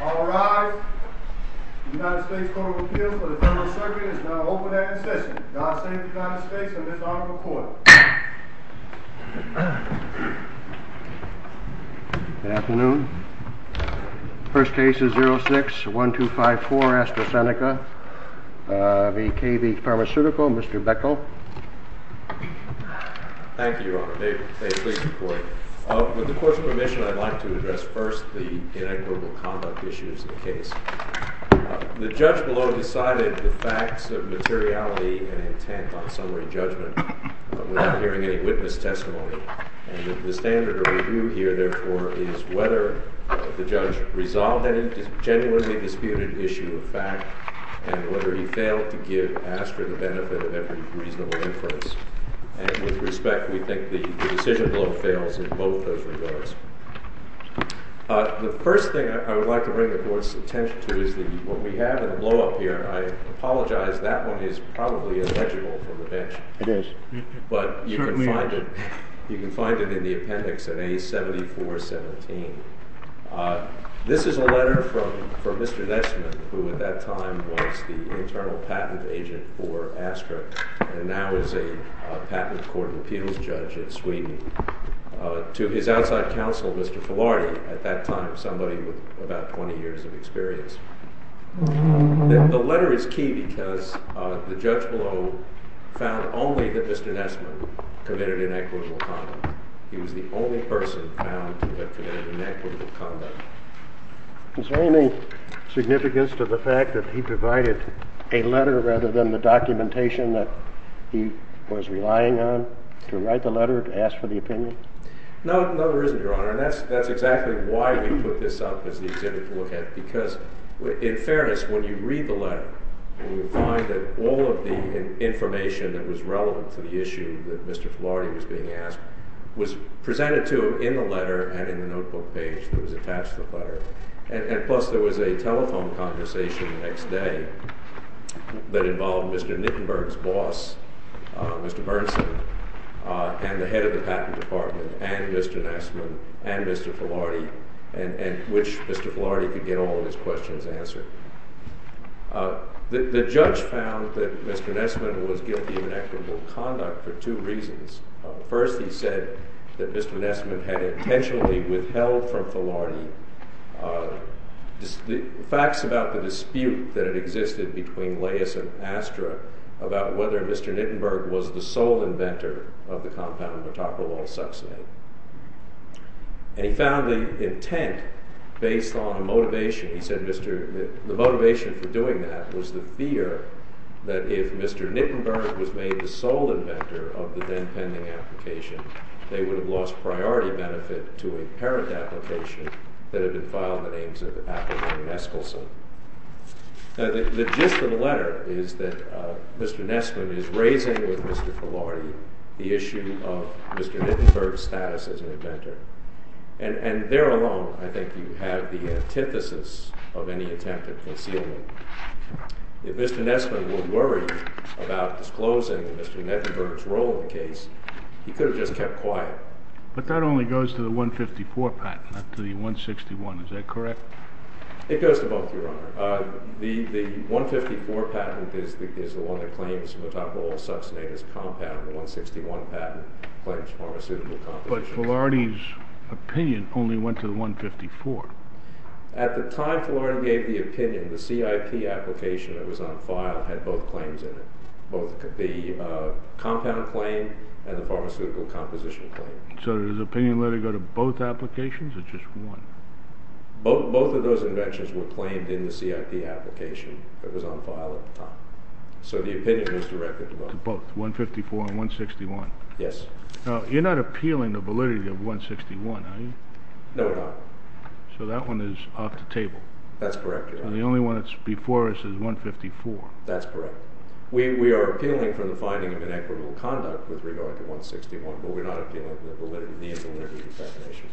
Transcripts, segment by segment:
All rise. The United States Court of Appeals for the Federal Circuit is now open and in session. God save the United States and this Honorable Court. Good afternoon. First case is 06-1254 AstraZeneca v. KV Pharmaceutical. Mr. Beckel. Thank you, Your Honor. May it please the Court. With the Court's permission, I'd like to address first the inequitable conduct issues in the case. The judge below decided the facts of materiality and intent on summary judgment without hearing any witness testimony. And the standard of review here, therefore, is whether the judge resolved any genuinely disputed issue of fact and whether he failed to give Astra the benefit of every reasonable inference. And with respect, we think the decision below fails in both those regards. The first thing I would like to bring the Court's attention to is what we have in the blow-up here. I apologize. That one is probably illegible from the bench. It is. It certainly is. But you can find it in the appendix at A-74-17. This is a letter from Mr. Nesman, who at that time was the internal patent agent for Astra and now is a patent Court of Appeals judge in Sweden, to his outside counsel, Mr. Filari, at that time somebody with about 20 years of experience. The letter is key because the judge below found only that Mr. Nesman committed inequitable conduct. He was the only person found to have committed inequitable conduct. Is there any significance to the fact that he provided a letter rather than the documentation that he was relying on to write the letter to ask for the opinion? No, there isn't, Your Honor. And that's exactly why we put this up as the exhibit to look at. Because in fairness, when you read the letter, you will find that all of the information that was relevant to the issue that Mr. Filari was being asked was presented to him in the letter and in the notebook page that was attached to the letter. And plus, there was a telephone conversation the next day that involved Mr. Nittenberg's boss, Mr. Bernstein, and the head of the patent department, and Mr. Nesman, and Mr. Filari, and which Mr. Filari could get all of his questions answered. The judge found that Mr. Nesman was guilty of inequitable conduct for two reasons. First, he said that Mr. Nesman had intentionally withheld from Filari facts about the dispute that had existed between Laius and Astra about whether Mr. Nittenberg was the sole inventor of the compound metoprolol succinate. And he found the intent based on a motivation. He said the motivation for doing that was the fear that if Mr. Nittenberg was made the sole inventor of the then-pending application, they would have lost priority benefit to a parent application that had been filed in the names of Appleton and Neskelson. The gist of the letter is that Mr. Nesman is raising with Mr. Filari the issue of Mr. Nittenberg's status as an inventor. And there alone, I think, you have the antithesis of any attempt at concealment. If Mr. Nesman were worried about disclosing Mr. Nittenberg's role in the case, he could have just kept quiet. But that only goes to the 154 patent, not to the 161. Is that correct? It goes to both, Your Honor. The 154 patent is the one that claims metoprolol succinate as compound. The 161 patent claims pharmaceutical composition. But Filari's opinion only went to the 154. At the time Filari gave the opinion, the CIP application that was on file had both claims in it, both the compound claim and the pharmaceutical composition claim. So does the opinion letter go to both applications or just one? Both of those inventions were claimed in the CIP application that was on file at the time. So the opinion was directed to both. To both, 154 and 161. Yes. Now, you're not appealing the validity of 161, are you? No, we're not. So that one is off the table. That's correct, Your Honor. And the only one that's before us is 154. That's correct. We are appealing for the finding of inequitable conduct with regard to 161, but we're not appealing the validity of the definition.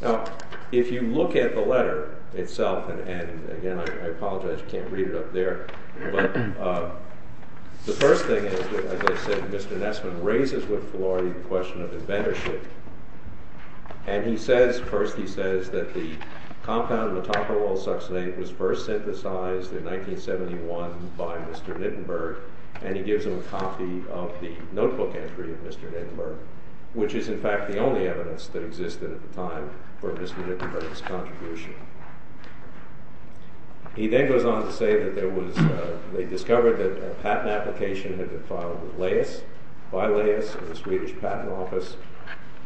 Now, if you look at the letter itself, and again, I apologize, you can't read it up there. But the first thing is, as I said, Mr. Nesman raises with Filari the question of inventorship. And he says, first he says that the compound metoprolol succinate was first synthesized in 1971 by Mr. Nittenberg. And he gives him a copy of the notebook entry of Mr. Nittenberg, which is in fact the only evidence that existed at the time for Mr. Nittenberg's contribution. He then goes on to say that they discovered that a patent application had been filed with Leyes, by Leyes, in the Swedish Patent Office.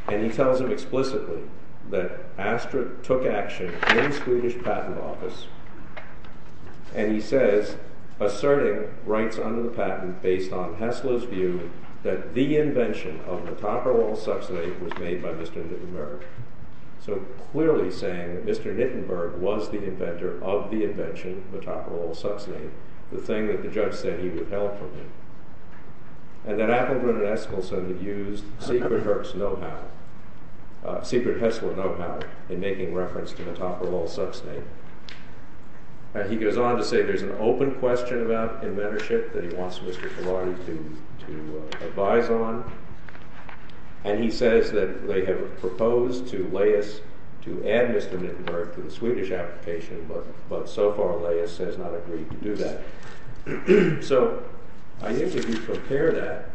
And he tells him explicitly that Astra took action in the Swedish Patent Office. And he says, asserting rights under the patent based on Hessler's view that the invention of metoprolol succinate was made by Mr. Nittenberg. So clearly saying that Mr. Nittenberg was the inventor of the invention, metoprolol succinate, the thing that the judge said he would help with. And that Appelgren and Eskilsson had used secret Hessler know-how in making reference to metoprolol succinate. And he goes on to say there's an open question about inventorship that he wants Mr. Filari to advise on. And he says that they have proposed to Leyes to add Mr. Nittenberg to the Swedish application, but so far Leyes has not agreed to do that. So I think if you compare that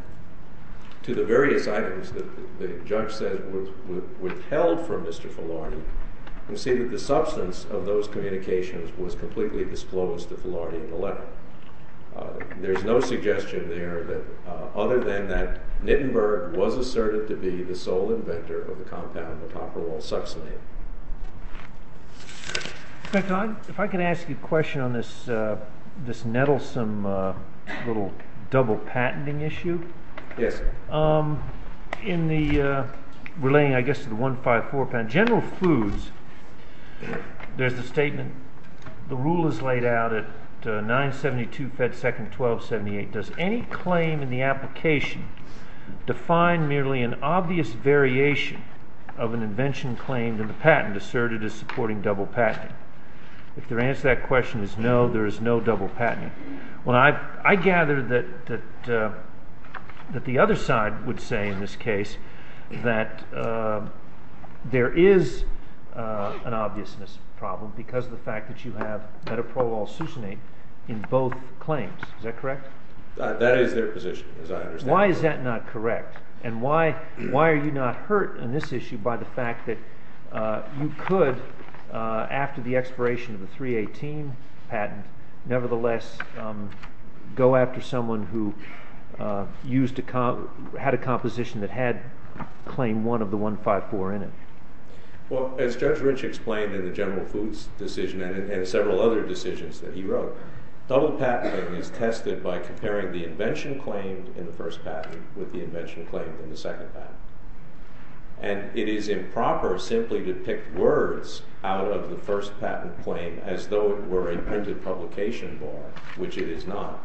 to the various items that the judge said were withheld from Mr. Filari, you'll see that the substance of those communications was completely disclosed to Filari in the letter. There's no suggestion there other than that Nittenberg was asserted to be the sole inventor of the compound metoprolol succinate. If I can ask you a question on this Nettlesome little double patenting issue. Yes, sir. Relating, I guess, to the 154 patent. In general foods, there's the statement, the rule is laid out at 972 Fed Second 1278. Does any claim in the application define merely an obvious variation of an invention claimed in the patent asserted as supporting double patenting? If the answer to that question is no, there is no double patenting. Well, I gather that the other side would say in this case that there is an obviousness problem because of the fact that you have metoprolol succinate in both claims. Is that correct? That is their position, as I understand it. Why is that not correct? And why are you not hurt on this issue by the fact that you could, after the expiration of the 318 patent, nevertheless go after someone who had a composition that had claim one of the 154 in it? Well, as Judge Rich explained in the general foods decision and in several other decisions that he wrote, double patenting is tested by comparing the invention claimed in the first patent with the invention claimed in the second patent. And it is improper simply to pick words out of the first patent claim as though it were a printed publication bar, which it is not.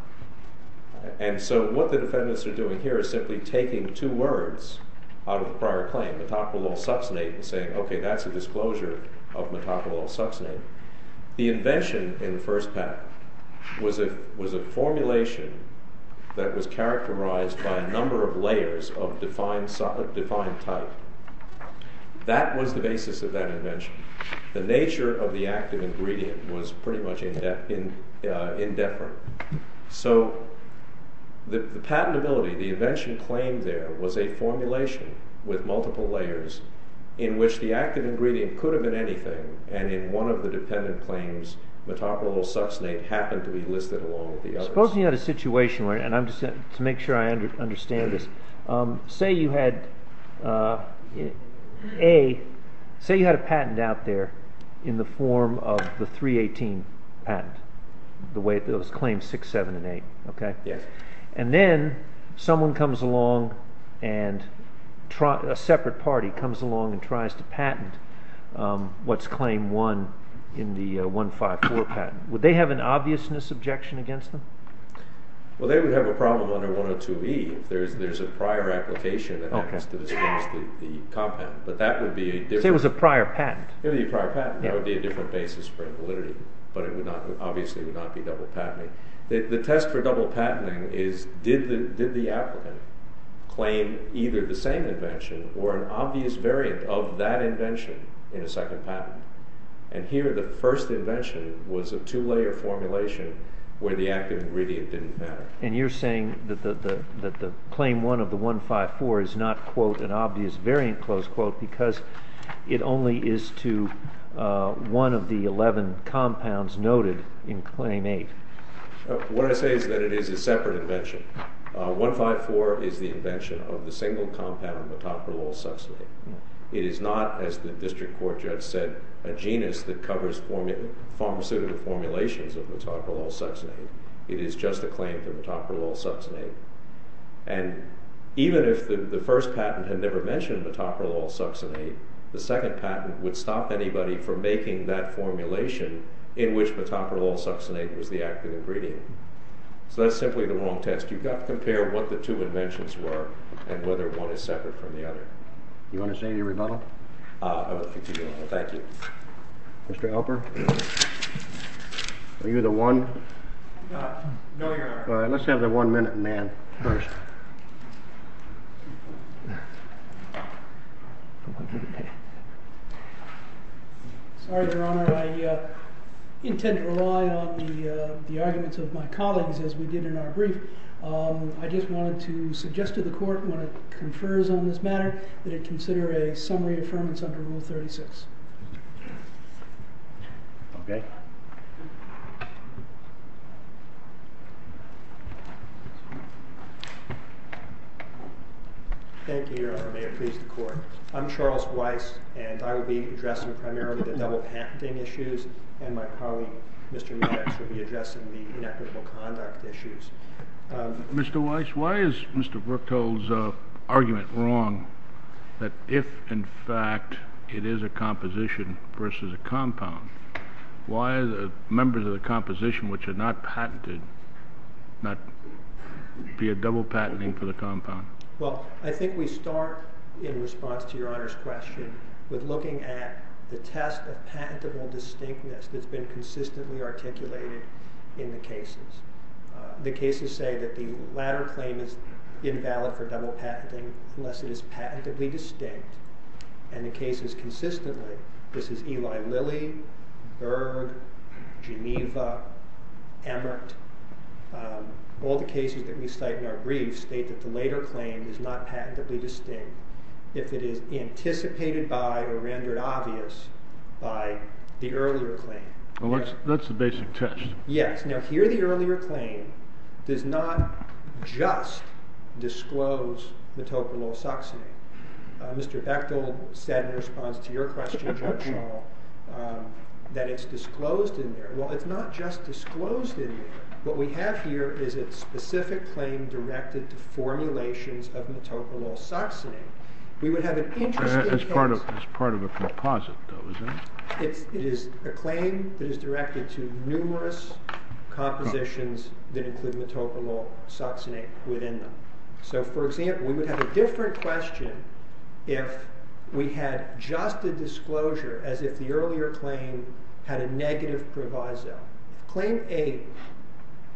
And so what the defendants are doing here is simply taking two words out of the prior claim, metoprolol succinate, and saying, okay, that's a disclosure of metoprolol succinate. The invention in the first patent was a formulation that was characterized by a number of layers of defined type. That was the basis of that invention. The nature of the active ingredient was pretty much independent. So the patentability, the invention claimed there, was a formulation with multiple layers in which the active ingredient could have been anything, and in one of the dependent claims, metoprolol succinate happened to be listed along with the others. Suppose you had a situation, and to make sure I understand this, say you had a patent out there in the form of the 318 patent, the way it was claimed 6, 7, and 8. And then someone comes along, a separate party comes along and tries to patent what's claim 1 in the 154 patent. Would they have an obviousness objection against them? Well, they would have a problem under 102E if there's a prior application that happens to dispense the compound. Say it was a prior patent. It would be a prior patent. That would be a different basis for invalidity, but it obviously would not be double patenting. The test for double patenting is did the applicant claim either the same invention or an obvious variant of that invention in a second patent? And here the first invention was a two-layer formulation where the active ingredient didn't matter. And you're saying that the claim 1 of the 154 is not, quote, an obvious variant, close quote, because it only is to one of the 11 compounds noted in claim 8. What I say is that it is a separate invention. 154 is the invention of the single compound metoprolol succinate. It is not, as the district court judge said, a genus that covers pharmaceutical formulations of metoprolol succinate. It is just a claim to metoprolol succinate. And even if the first patent had never mentioned metoprolol succinate, the second patent would stop anybody from making that formulation in which metoprolol succinate was the active ingredient. So that's simply the wrong test. You've got to compare what the two inventions were and whether one is separate from the other. Do you want to say any rebuttal? I would like to rebuttal. Thank you. Mr. Alper, are you the one? No, Your Honor. All right. Let's have the one-minute man first. Sorry, Your Honor. I intend to rely on the arguments of my colleagues, as we did in our brief. I just wanted to suggest to the court, when it confers on this matter, that it consider a summary affirmance under Rule 36. Okay. Thank you, Your Honor. May it please the court. I'm Charles Weiss, and I will be addressing primarily the double patenting issues, and my colleague, Mr. Maddox, will be addressing the inequitable conduct issues. Mr. Weiss, why is Mr. Brooktole's argument wrong that if, in fact, it is a composition versus a compound, why are the members of the composition, which are not patented, not be a double patenting for the compound? Well, I think we start, in response to Your Honor's question, with looking at the test of patentable distinctness that's been consistently articulated in the cases. The cases say that the latter claim is invalid for double patenting unless it is patentably distinct, and the cases consistently, this is Eli Lilly, Berg, Geneva, Emmert, all the cases that we cite in our briefs state that the later claim is not patentably distinct if it is anticipated by or rendered obvious by the earlier claim. Well, that's the basic test. Yes. Now, here the earlier claim does not just disclose metoprololsoxanine. Mr. Bechtol said in response to your question, Judge Shaw, that it's disclosed in there. Well, it's not just disclosed in there. What we have here is a specific claim directed to formulations of metoprololsoxanine. That's part of a composite, though, isn't it? It is a claim that is directed to numerous compositions that include metoprololsoxanate within them. So, for example, we would have a different question if we had just a disclosure, as if the earlier claim had a negative proviso. Claim 8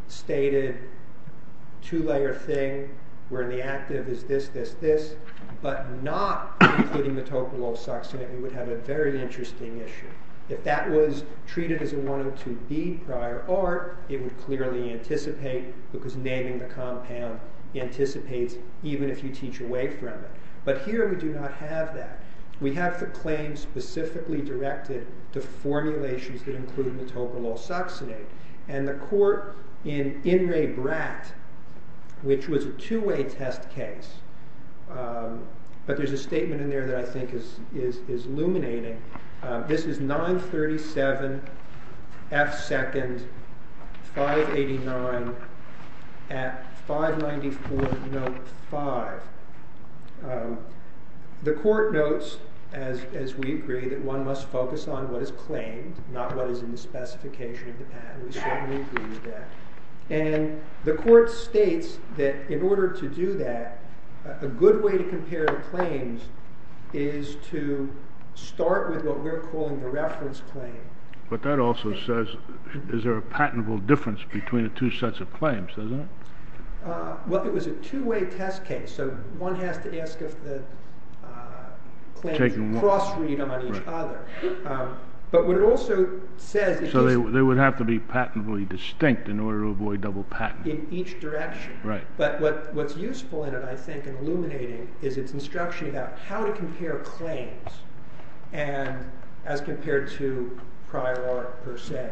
stated a two-layer thing where the active is this, this, this, but not including metoprololsoxanate, we would have a very interesting issue. If that was treated as a 102B prior art, it would clearly anticipate because naming the compound anticipates even if you teach away from it. But here we do not have that. We have the claim specifically directed to formulations that include metoprololsoxanate. And the court in In Re Brat, which was a two-way test case, but there's a statement in there that I think is illuminating. This is 937F2nd 589 at 594 note 5. The court notes, as we agree, that one must focus on what is claimed, not what is in the specification of the patent. And the court states that in order to do that, a good way to compare the claims is to start with what we're calling the reference claim. But that also says, is there a patentable difference between the two sets of claims, doesn't it? Well, it was a two-way test case, so one has to ask if the claims cross read on each other. But what it also says is- So they would have to be patentably distinct in order to avoid double patent. In each direction. Right. But what's useful in it, I think, and illuminating is its instruction about how to compare claims as compared to prior art per se.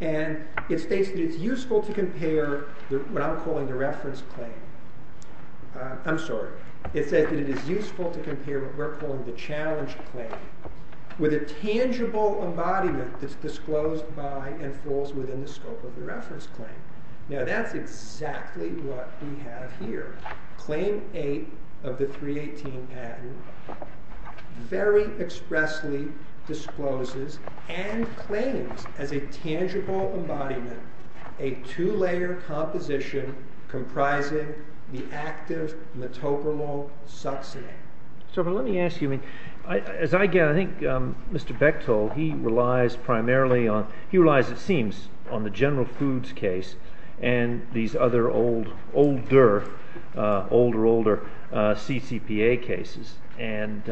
And it states that it's useful to compare what I'm calling the reference claim. I'm sorry. It says that it is useful to compare what we're calling the challenge claim with a tangible embodiment that's disclosed by and falls within the scope of the reference claim. Now that's exactly what we have here. Claim 8 of the 318 patent very expressly discloses and claims as a tangible embodiment a two-layer composition comprising the active metopremal succinate. So let me ask you, as I gather, I think Mr. Bechtol, he relies primarily on, he relies, it seems, on the General Foods case and these other older, older, older CCPA cases. And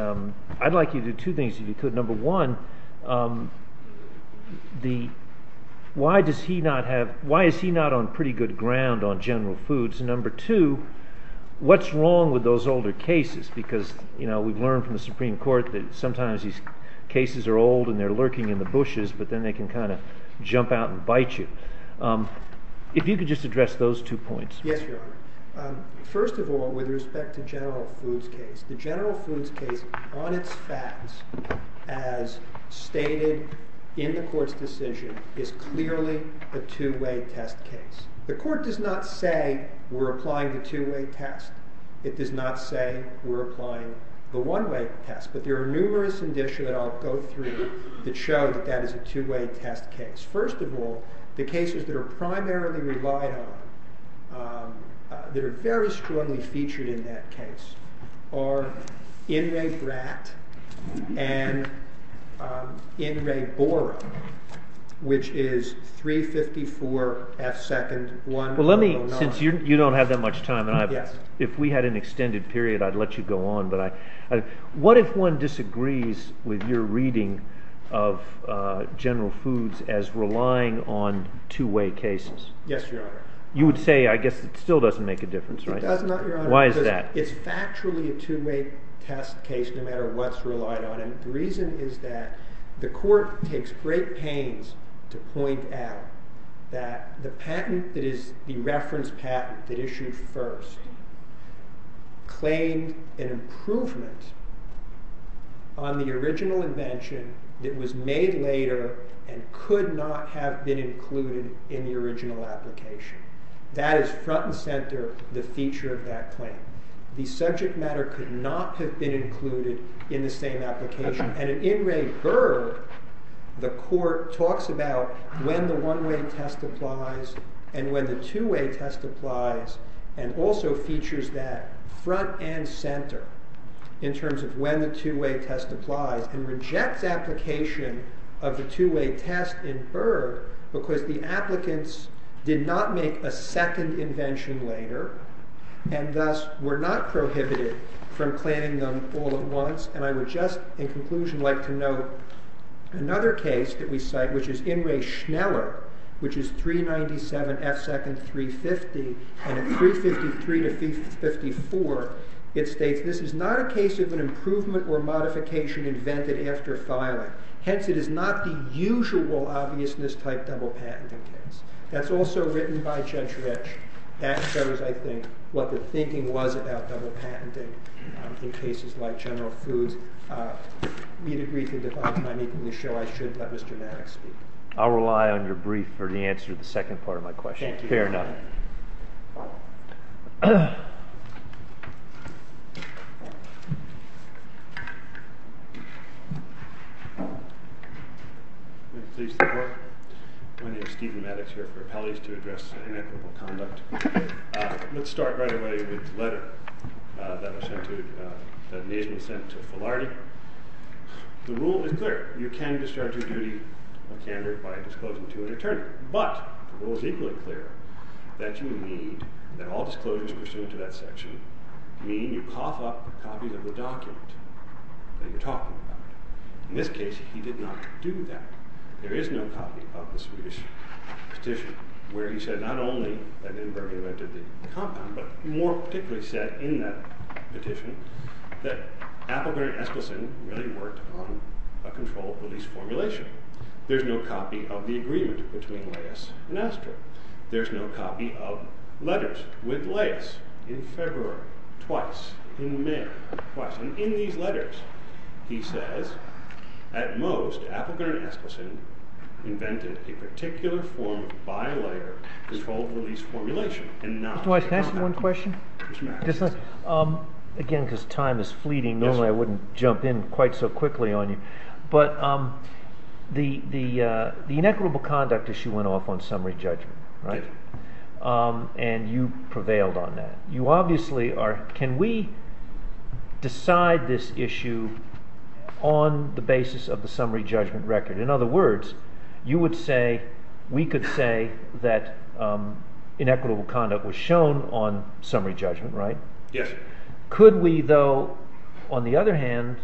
I'd like you to do two things, if you could. Number one, why does he not have, why is he not on pretty good ground on General Foods? And number two, what's wrong with those older cases? Because, you know, we've learned from the Supreme Court that sometimes these cases are old and they're lurking in the bushes, but then they can kind of jump out and bite you. If you could just address those two points. Yes, Your Honor. First of all, with respect to General Foods case, the General Foods case on its facts, as stated in the court's decision, is clearly a two-way test case. The court does not say we're applying the two-way test. It does not say we're applying the one-way test. But there are numerous indicia that I'll go through that show that that is a two-way test case. First of all, the cases that are primarily relied on, that are very strongly featured in that case, are In Re Brat and In Re Bora, which is 354 F. 2nd. 109. Well, let me, since you don't have that much time, and if we had an extended period, I'd let you go on. What if one disagrees with your reading of General Foods as relying on two-way cases? Yes, Your Honor. You would say, I guess, it still doesn't make a difference, right? It does not, Your Honor. Why is that? It's factually a two-way test case, no matter what's relied on it. The reason is that the court takes great pains to point out that the patent that is the reference patent that issued first claimed an improvement on the original invention that was made later and could not have been included in the original application. That is front and center, the feature of that claim. The subject matter could not have been included in the same application. And in In Re Brat, the court talks about when the one-way test applies and when the two-way test applies and also features that front and center in terms of when the two-way test applies and rejects application of the two-way test in Brat because the applicants did not make a second invention later and thus were not prohibited from planning them all at once. And I would just, in conclusion, like to note another case that we cite, which is In Re Schneller, which is 397 F. Second 350. And at 353 to 354, it states, this is not a case of an improvement or modification invented after filing. Hence, it is not the usual obviousness type double patenting case. That's also written by Gentrych. That shows, I think, what the thinking was about double patenting in cases like General Foods. I need to briefly define my meeting to show I should let Mr. Maddox speak. I'll rely on your brief for the answer to the second part of my question. Thank you. Fair enough. Please sit down. My name is Stephen Maddox here for appellees to address inequitable conduct. Let's start right away with the letter that was sent to, that Nazem sent to Filardi. The rule is clear. You can discharge your duty of candor by disclosing to an attorney. But the rule is equally clear that you need, that all disclosures pursuant to that section, mean you cough up copies of the document that you're talking about. In this case, he did not do that. There is no copy of the Swedish petition where he said not only that Nuremberg invented the compound, but more particularly said in that petition that Appelgren and Eskilsson really worked on a control release formulation. There's no copy of the agreement between Leyes and Eskilsson. There's no copy of letters with Leyes in February, twice, in May, twice. And in these letters he says at most Appelgren and Eskilsson invented a particular form of bilayer control release formulation. Mr. Weiss, can I ask you one question? Yes, ma'am. Again, because time is fleeting, normally I wouldn't jump in quite so quickly on you. But the inequitable conduct issue went off on summary judgment, right? Yes. And you prevailed on that. You obviously are – can we decide this issue on the basis of the summary judgment record? In other words, you would say we could say that inequitable conduct was shown on summary judgment, right? Yes. Could we, though, on the other hand,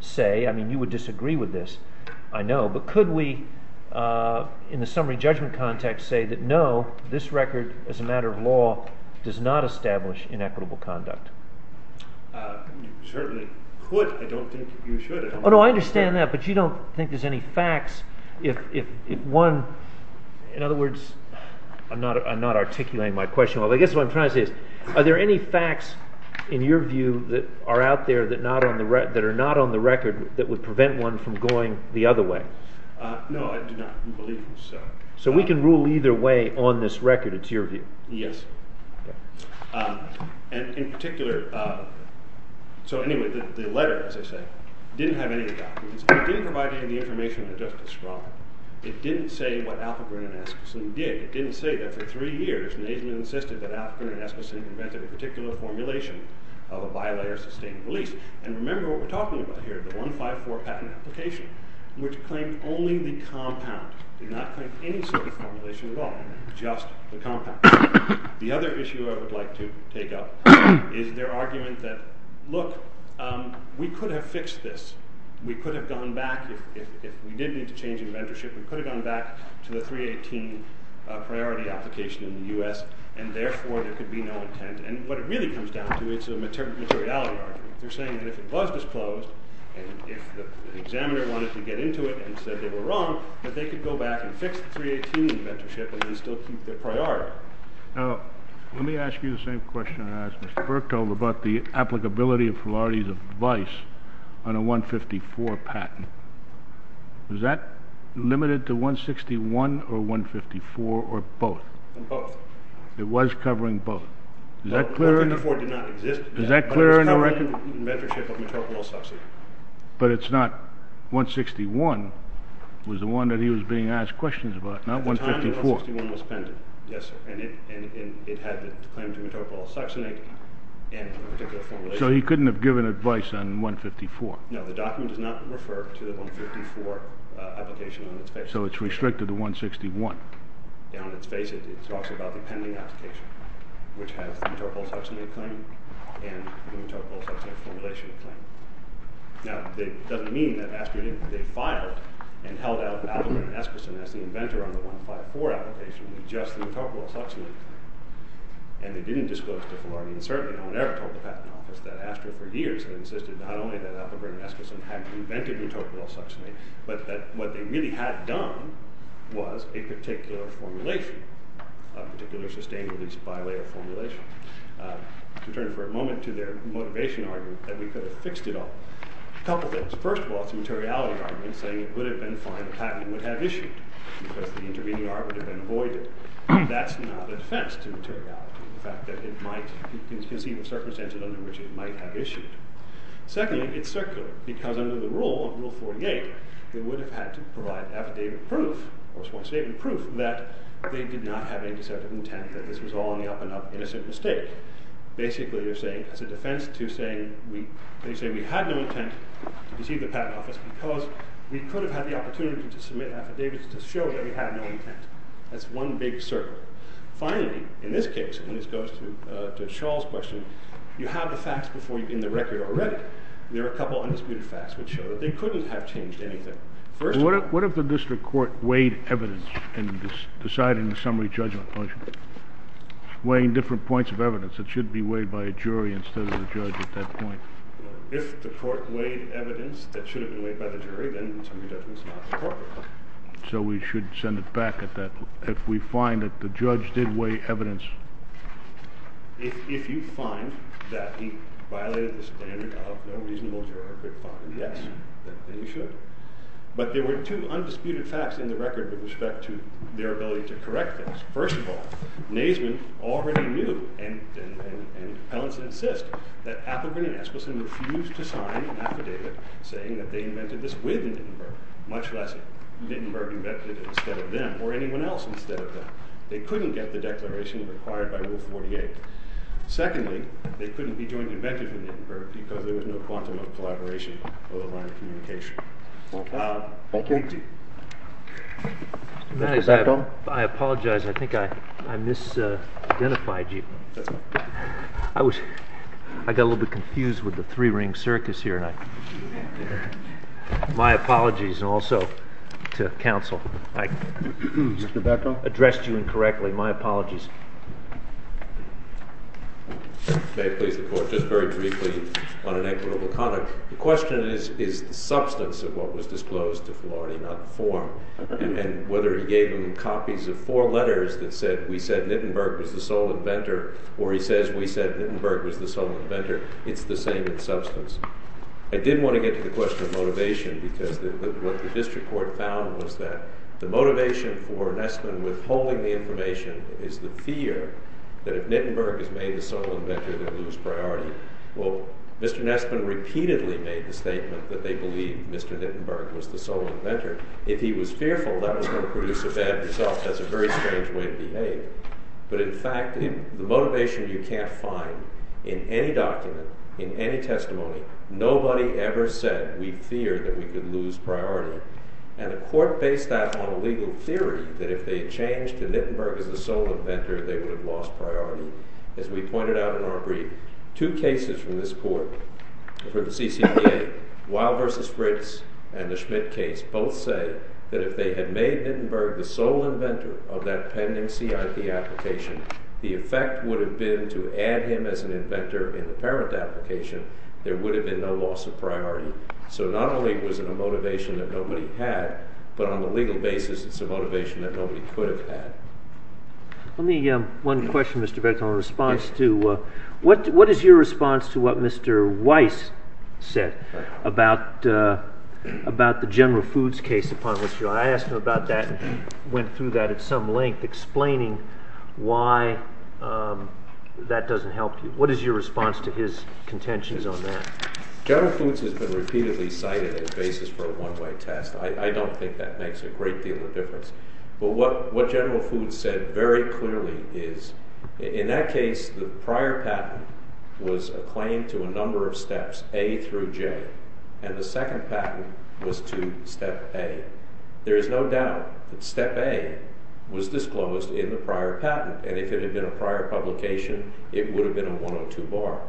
say – I mean, you would disagree with this, I know – but could we, in the summary judgment context, say that no, this record, as a matter of law, does not establish inequitable conduct? You certainly could. I don't think you should. Oh, no, I understand that, but you don't think there's any facts if one – in other words, I'm not articulating my question well. I guess what I'm trying to say is, are there any facts in your view that are out there that are not on the record that would prevent one from going the other way? No, I do not believe so. So we can rule either way on this record, it's your view? Yes. Okay. And in particular – so anyway, the letter, as I say, didn't have any of the documents. It didn't provide any of the information that Justice Schramm. It didn't say what Alpagrin and Eskoson did. It didn't say that for three years Naismith insisted that Alpagrin and Eskoson invented a particular formulation of a bilayer sustained release. And remember what we're talking about here, the 154 patent application, which claimed only the compound, did not claim any sort of formulation at all, just the compound. The other issue I would like to take up is their argument that, look, we could have fixed this. We could have gone back – if we did need to change inventorship, we could have gone back to the 318 priority application in the U.S. and therefore there could be no intent. And what it really comes down to is a materiality argument. They're saying that if it was disclosed and if the examiner wanted to get into it and said they were wrong, that they could go back and fix the 318 inventorship and still keep their priority. Now, let me ask you the same question I asked Mr. Burke about the applicability of priorities of vice on a 154 patent. Was that limited to 161 or 154 or both? Both. It was covering both. Well, 154 did not exist then. But it was covering inventorship of metropolis subsidy. But it's not – 161 was the one that he was being asked questions about, not 154. Yes, sir. And it had the claim to metropolis subsidy and a particular formulation. So he couldn't have given advice on 154. No, the document does not refer to the 154 application on its face. So it's restricted to 161. Yeah, on its face it talks about the pending application, which has the metropolis subsidy claim and the metropolis subsidy formulation claim. Now, that doesn't mean that ASTRA didn't – they filed and held out Appleburn and Eskerson as the inventor on the 154 application with just the metropolis subsidy claim. And they didn't disclose to Fullerton, and certainly no one ever told the patent office that ASTRA for years had insisted not only that Appleburn and Eskerson hadn't invented metropolis subsidy, but that what they really had done was a particular formulation, a particular sustained release bilayer formulation. To turn for a moment to their motivation argument that we could have fixed it all, a couple things. First of all, it's a materiality argument, saying it would have been fine if the patent would have been issued because the intervening argument would have been avoided. That's not a defense to materiality, the fact that it might – you can see the circumstances under which it might have issued. Secondly, it's circular, because under the rule of Rule 48, they would have had to provide affidavit proof, or sworn statement proof, that they did not have any deceptive intent, that this was all an up-and-up innocent mistake. Basically, you're saying, as a defense to saying we – they say we had no intent to deceive the patent office because we could have had the opportunity to submit affidavits to show that we had no intent. That's one big circle. Finally, in this case, and this goes to Charles' question, you have the facts before you've been in the record already. There are a couple of undisputed facts which show that they couldn't have changed anything. First of all – What if the district court weighed evidence in deciding the summary judgment function, weighing different points of evidence that should be weighed by a jury instead of the judge at that point? If the court weighed evidence that should have been weighed by the jury, then the summary judgment is not the court. So we should send it back at that – if we find that the judge did weigh evidence. If you find that he violated the standard of no reasonable juror could find an S, then you should. But there were two undisputed facts in the record with respect to their ability to correct this. First of all, Naismith already knew, and Pellenson insists, that Appelgren and Eskelson refused to sign an affidavit saying that they invented this with Lindenburg, much less Lindenburg invented it instead of them or anyone else instead of them. They couldn't get the declaration required by Rule 48. Secondly, they couldn't be joint inventors with Lindenburg because there was no quantum of collaboration over the line of communication. Thank you. I apologize. I think I misidentified you. I got a little bit confused with the three-ring circus here. My apologies also to counsel. I addressed you incorrectly. My apologies. May I please report just very briefly on inequitable conduct? The question is the substance of what was disclosed to Florey, not the form. And whether he gave them copies of four letters that said we said Lindenburg was the sole inventor or he says we said Lindenburg was the sole inventor, it's the same in substance. I did want to get to the question of motivation because what the district court found was that the motivation for Nesman withholding the information is the fear that if Lindenburg is made the sole inventor, they'll lose priority. Well, Mr. Nesman repeatedly made the statement that they believed Mr. Lindenburg was the sole inventor. If he was fearful, that was going to produce a bad result. That's a very strange way to behave. But in fact, the motivation you can't find in any document, in any testimony, nobody ever said we feared that we could lose priority. And the court based that on a legal theory that if they had changed to Lindenburg as the sole inventor, they would have lost priority. As we pointed out in our brief, two cases from this court for the CCPA, Weil v. Fritz and the Schmidt case, both say that if they had made Lindenburg the sole inventor of that pending CIP application, the effect would have been to add him as an inventor in the parent application. There would have been no loss of priority. So not only was it a motivation that nobody had, but on the legal basis, it's a motivation that nobody could have had. Let me – one question, Mr. Vettel, in response to – what is your response to what Mr. Weiss said about the General Foods case upon which you – I asked him about that and went through that at some length, explaining why that doesn't help you. What is your response to his contentions on that? General Foods has been repeatedly cited as basis for a one-way test. I don't think that makes a great deal of difference. But what General Foods said very clearly is in that case, the prior patent was a claim to a number of steps, A through J, and the second patent was to step A. There is no doubt that step A was disclosed in the prior patent, and if it had been a prior publication, it would have been a 102 bar.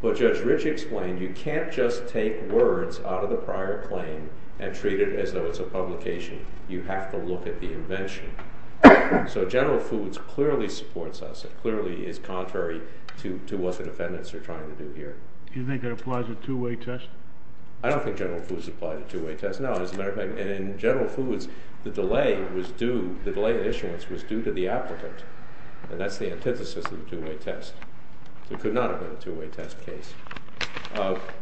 But Judge Rich explained you can't just take words out of the prior claim and treat it as though it's a publication. You have to look at the invention. So General Foods clearly supports us. It clearly is contrary to what the defendants are trying to do here. Do you think it applies a two-way test? I don't think General Foods applies a two-way test, no. As a matter of fact, in General Foods, the delay was due – the delay in issuance was due to the applicant, and that's the antithesis of the two-way test. It could not have been a two-way test case.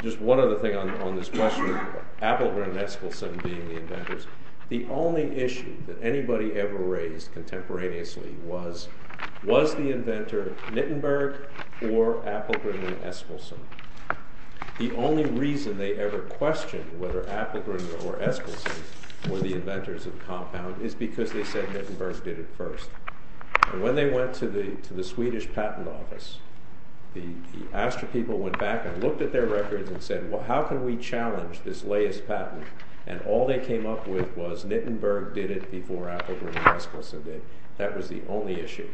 Just one other thing on this question, Appelgren and Eskilsson being the inventors. The only issue that anybody ever raised contemporaneously was, was the inventor Nittenberg or Appelgren and Eskilsson? The only reason they ever questioned whether Appelgren or Eskilsson were the inventors of the compound is because they said Nittenberg did it first. And when they went to the Swedish patent office, the Astra people went back and looked at their records and said, well, how can we challenge this latest patent? And all they came up with was Nittenberg did it before Appelgren and Eskilsson did. That was the only issue.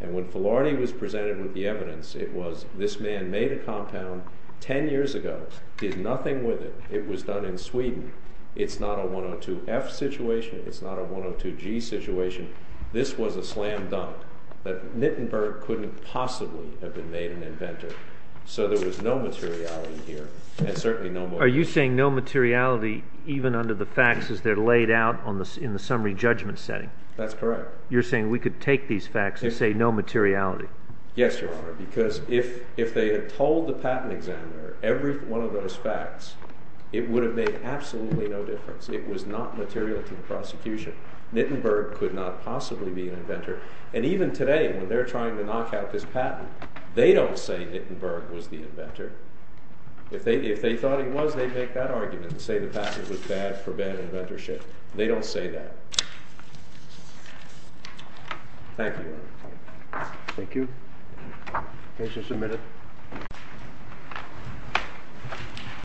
And when Filarity was presented with the evidence, it was, this man made a compound 10 years ago, did nothing with it. It was done in Sweden. It's not a 102F situation. It's not a 102G situation. This was a slam dunk that Nittenberg couldn't possibly have been made an inventor. So there was no materiality here and certainly no motive. Are you saying no materiality even under the facts as they're laid out in the summary judgment setting? That's correct. You're saying we could take these facts and say no materiality? Yes, Your Honor, because if they had told the patent examiner every one of those facts, it would have made absolutely no difference. It was not material to the prosecution. Nittenberg could not possibly be an inventor. And even today when they're trying to knock out this patent, they don't say Nittenberg was the inventor. If they thought he was, they'd make that argument and say the patent was bad for bad inventorship. They don't say that. Thank you, Your Honor. Thank you. Case is submitted.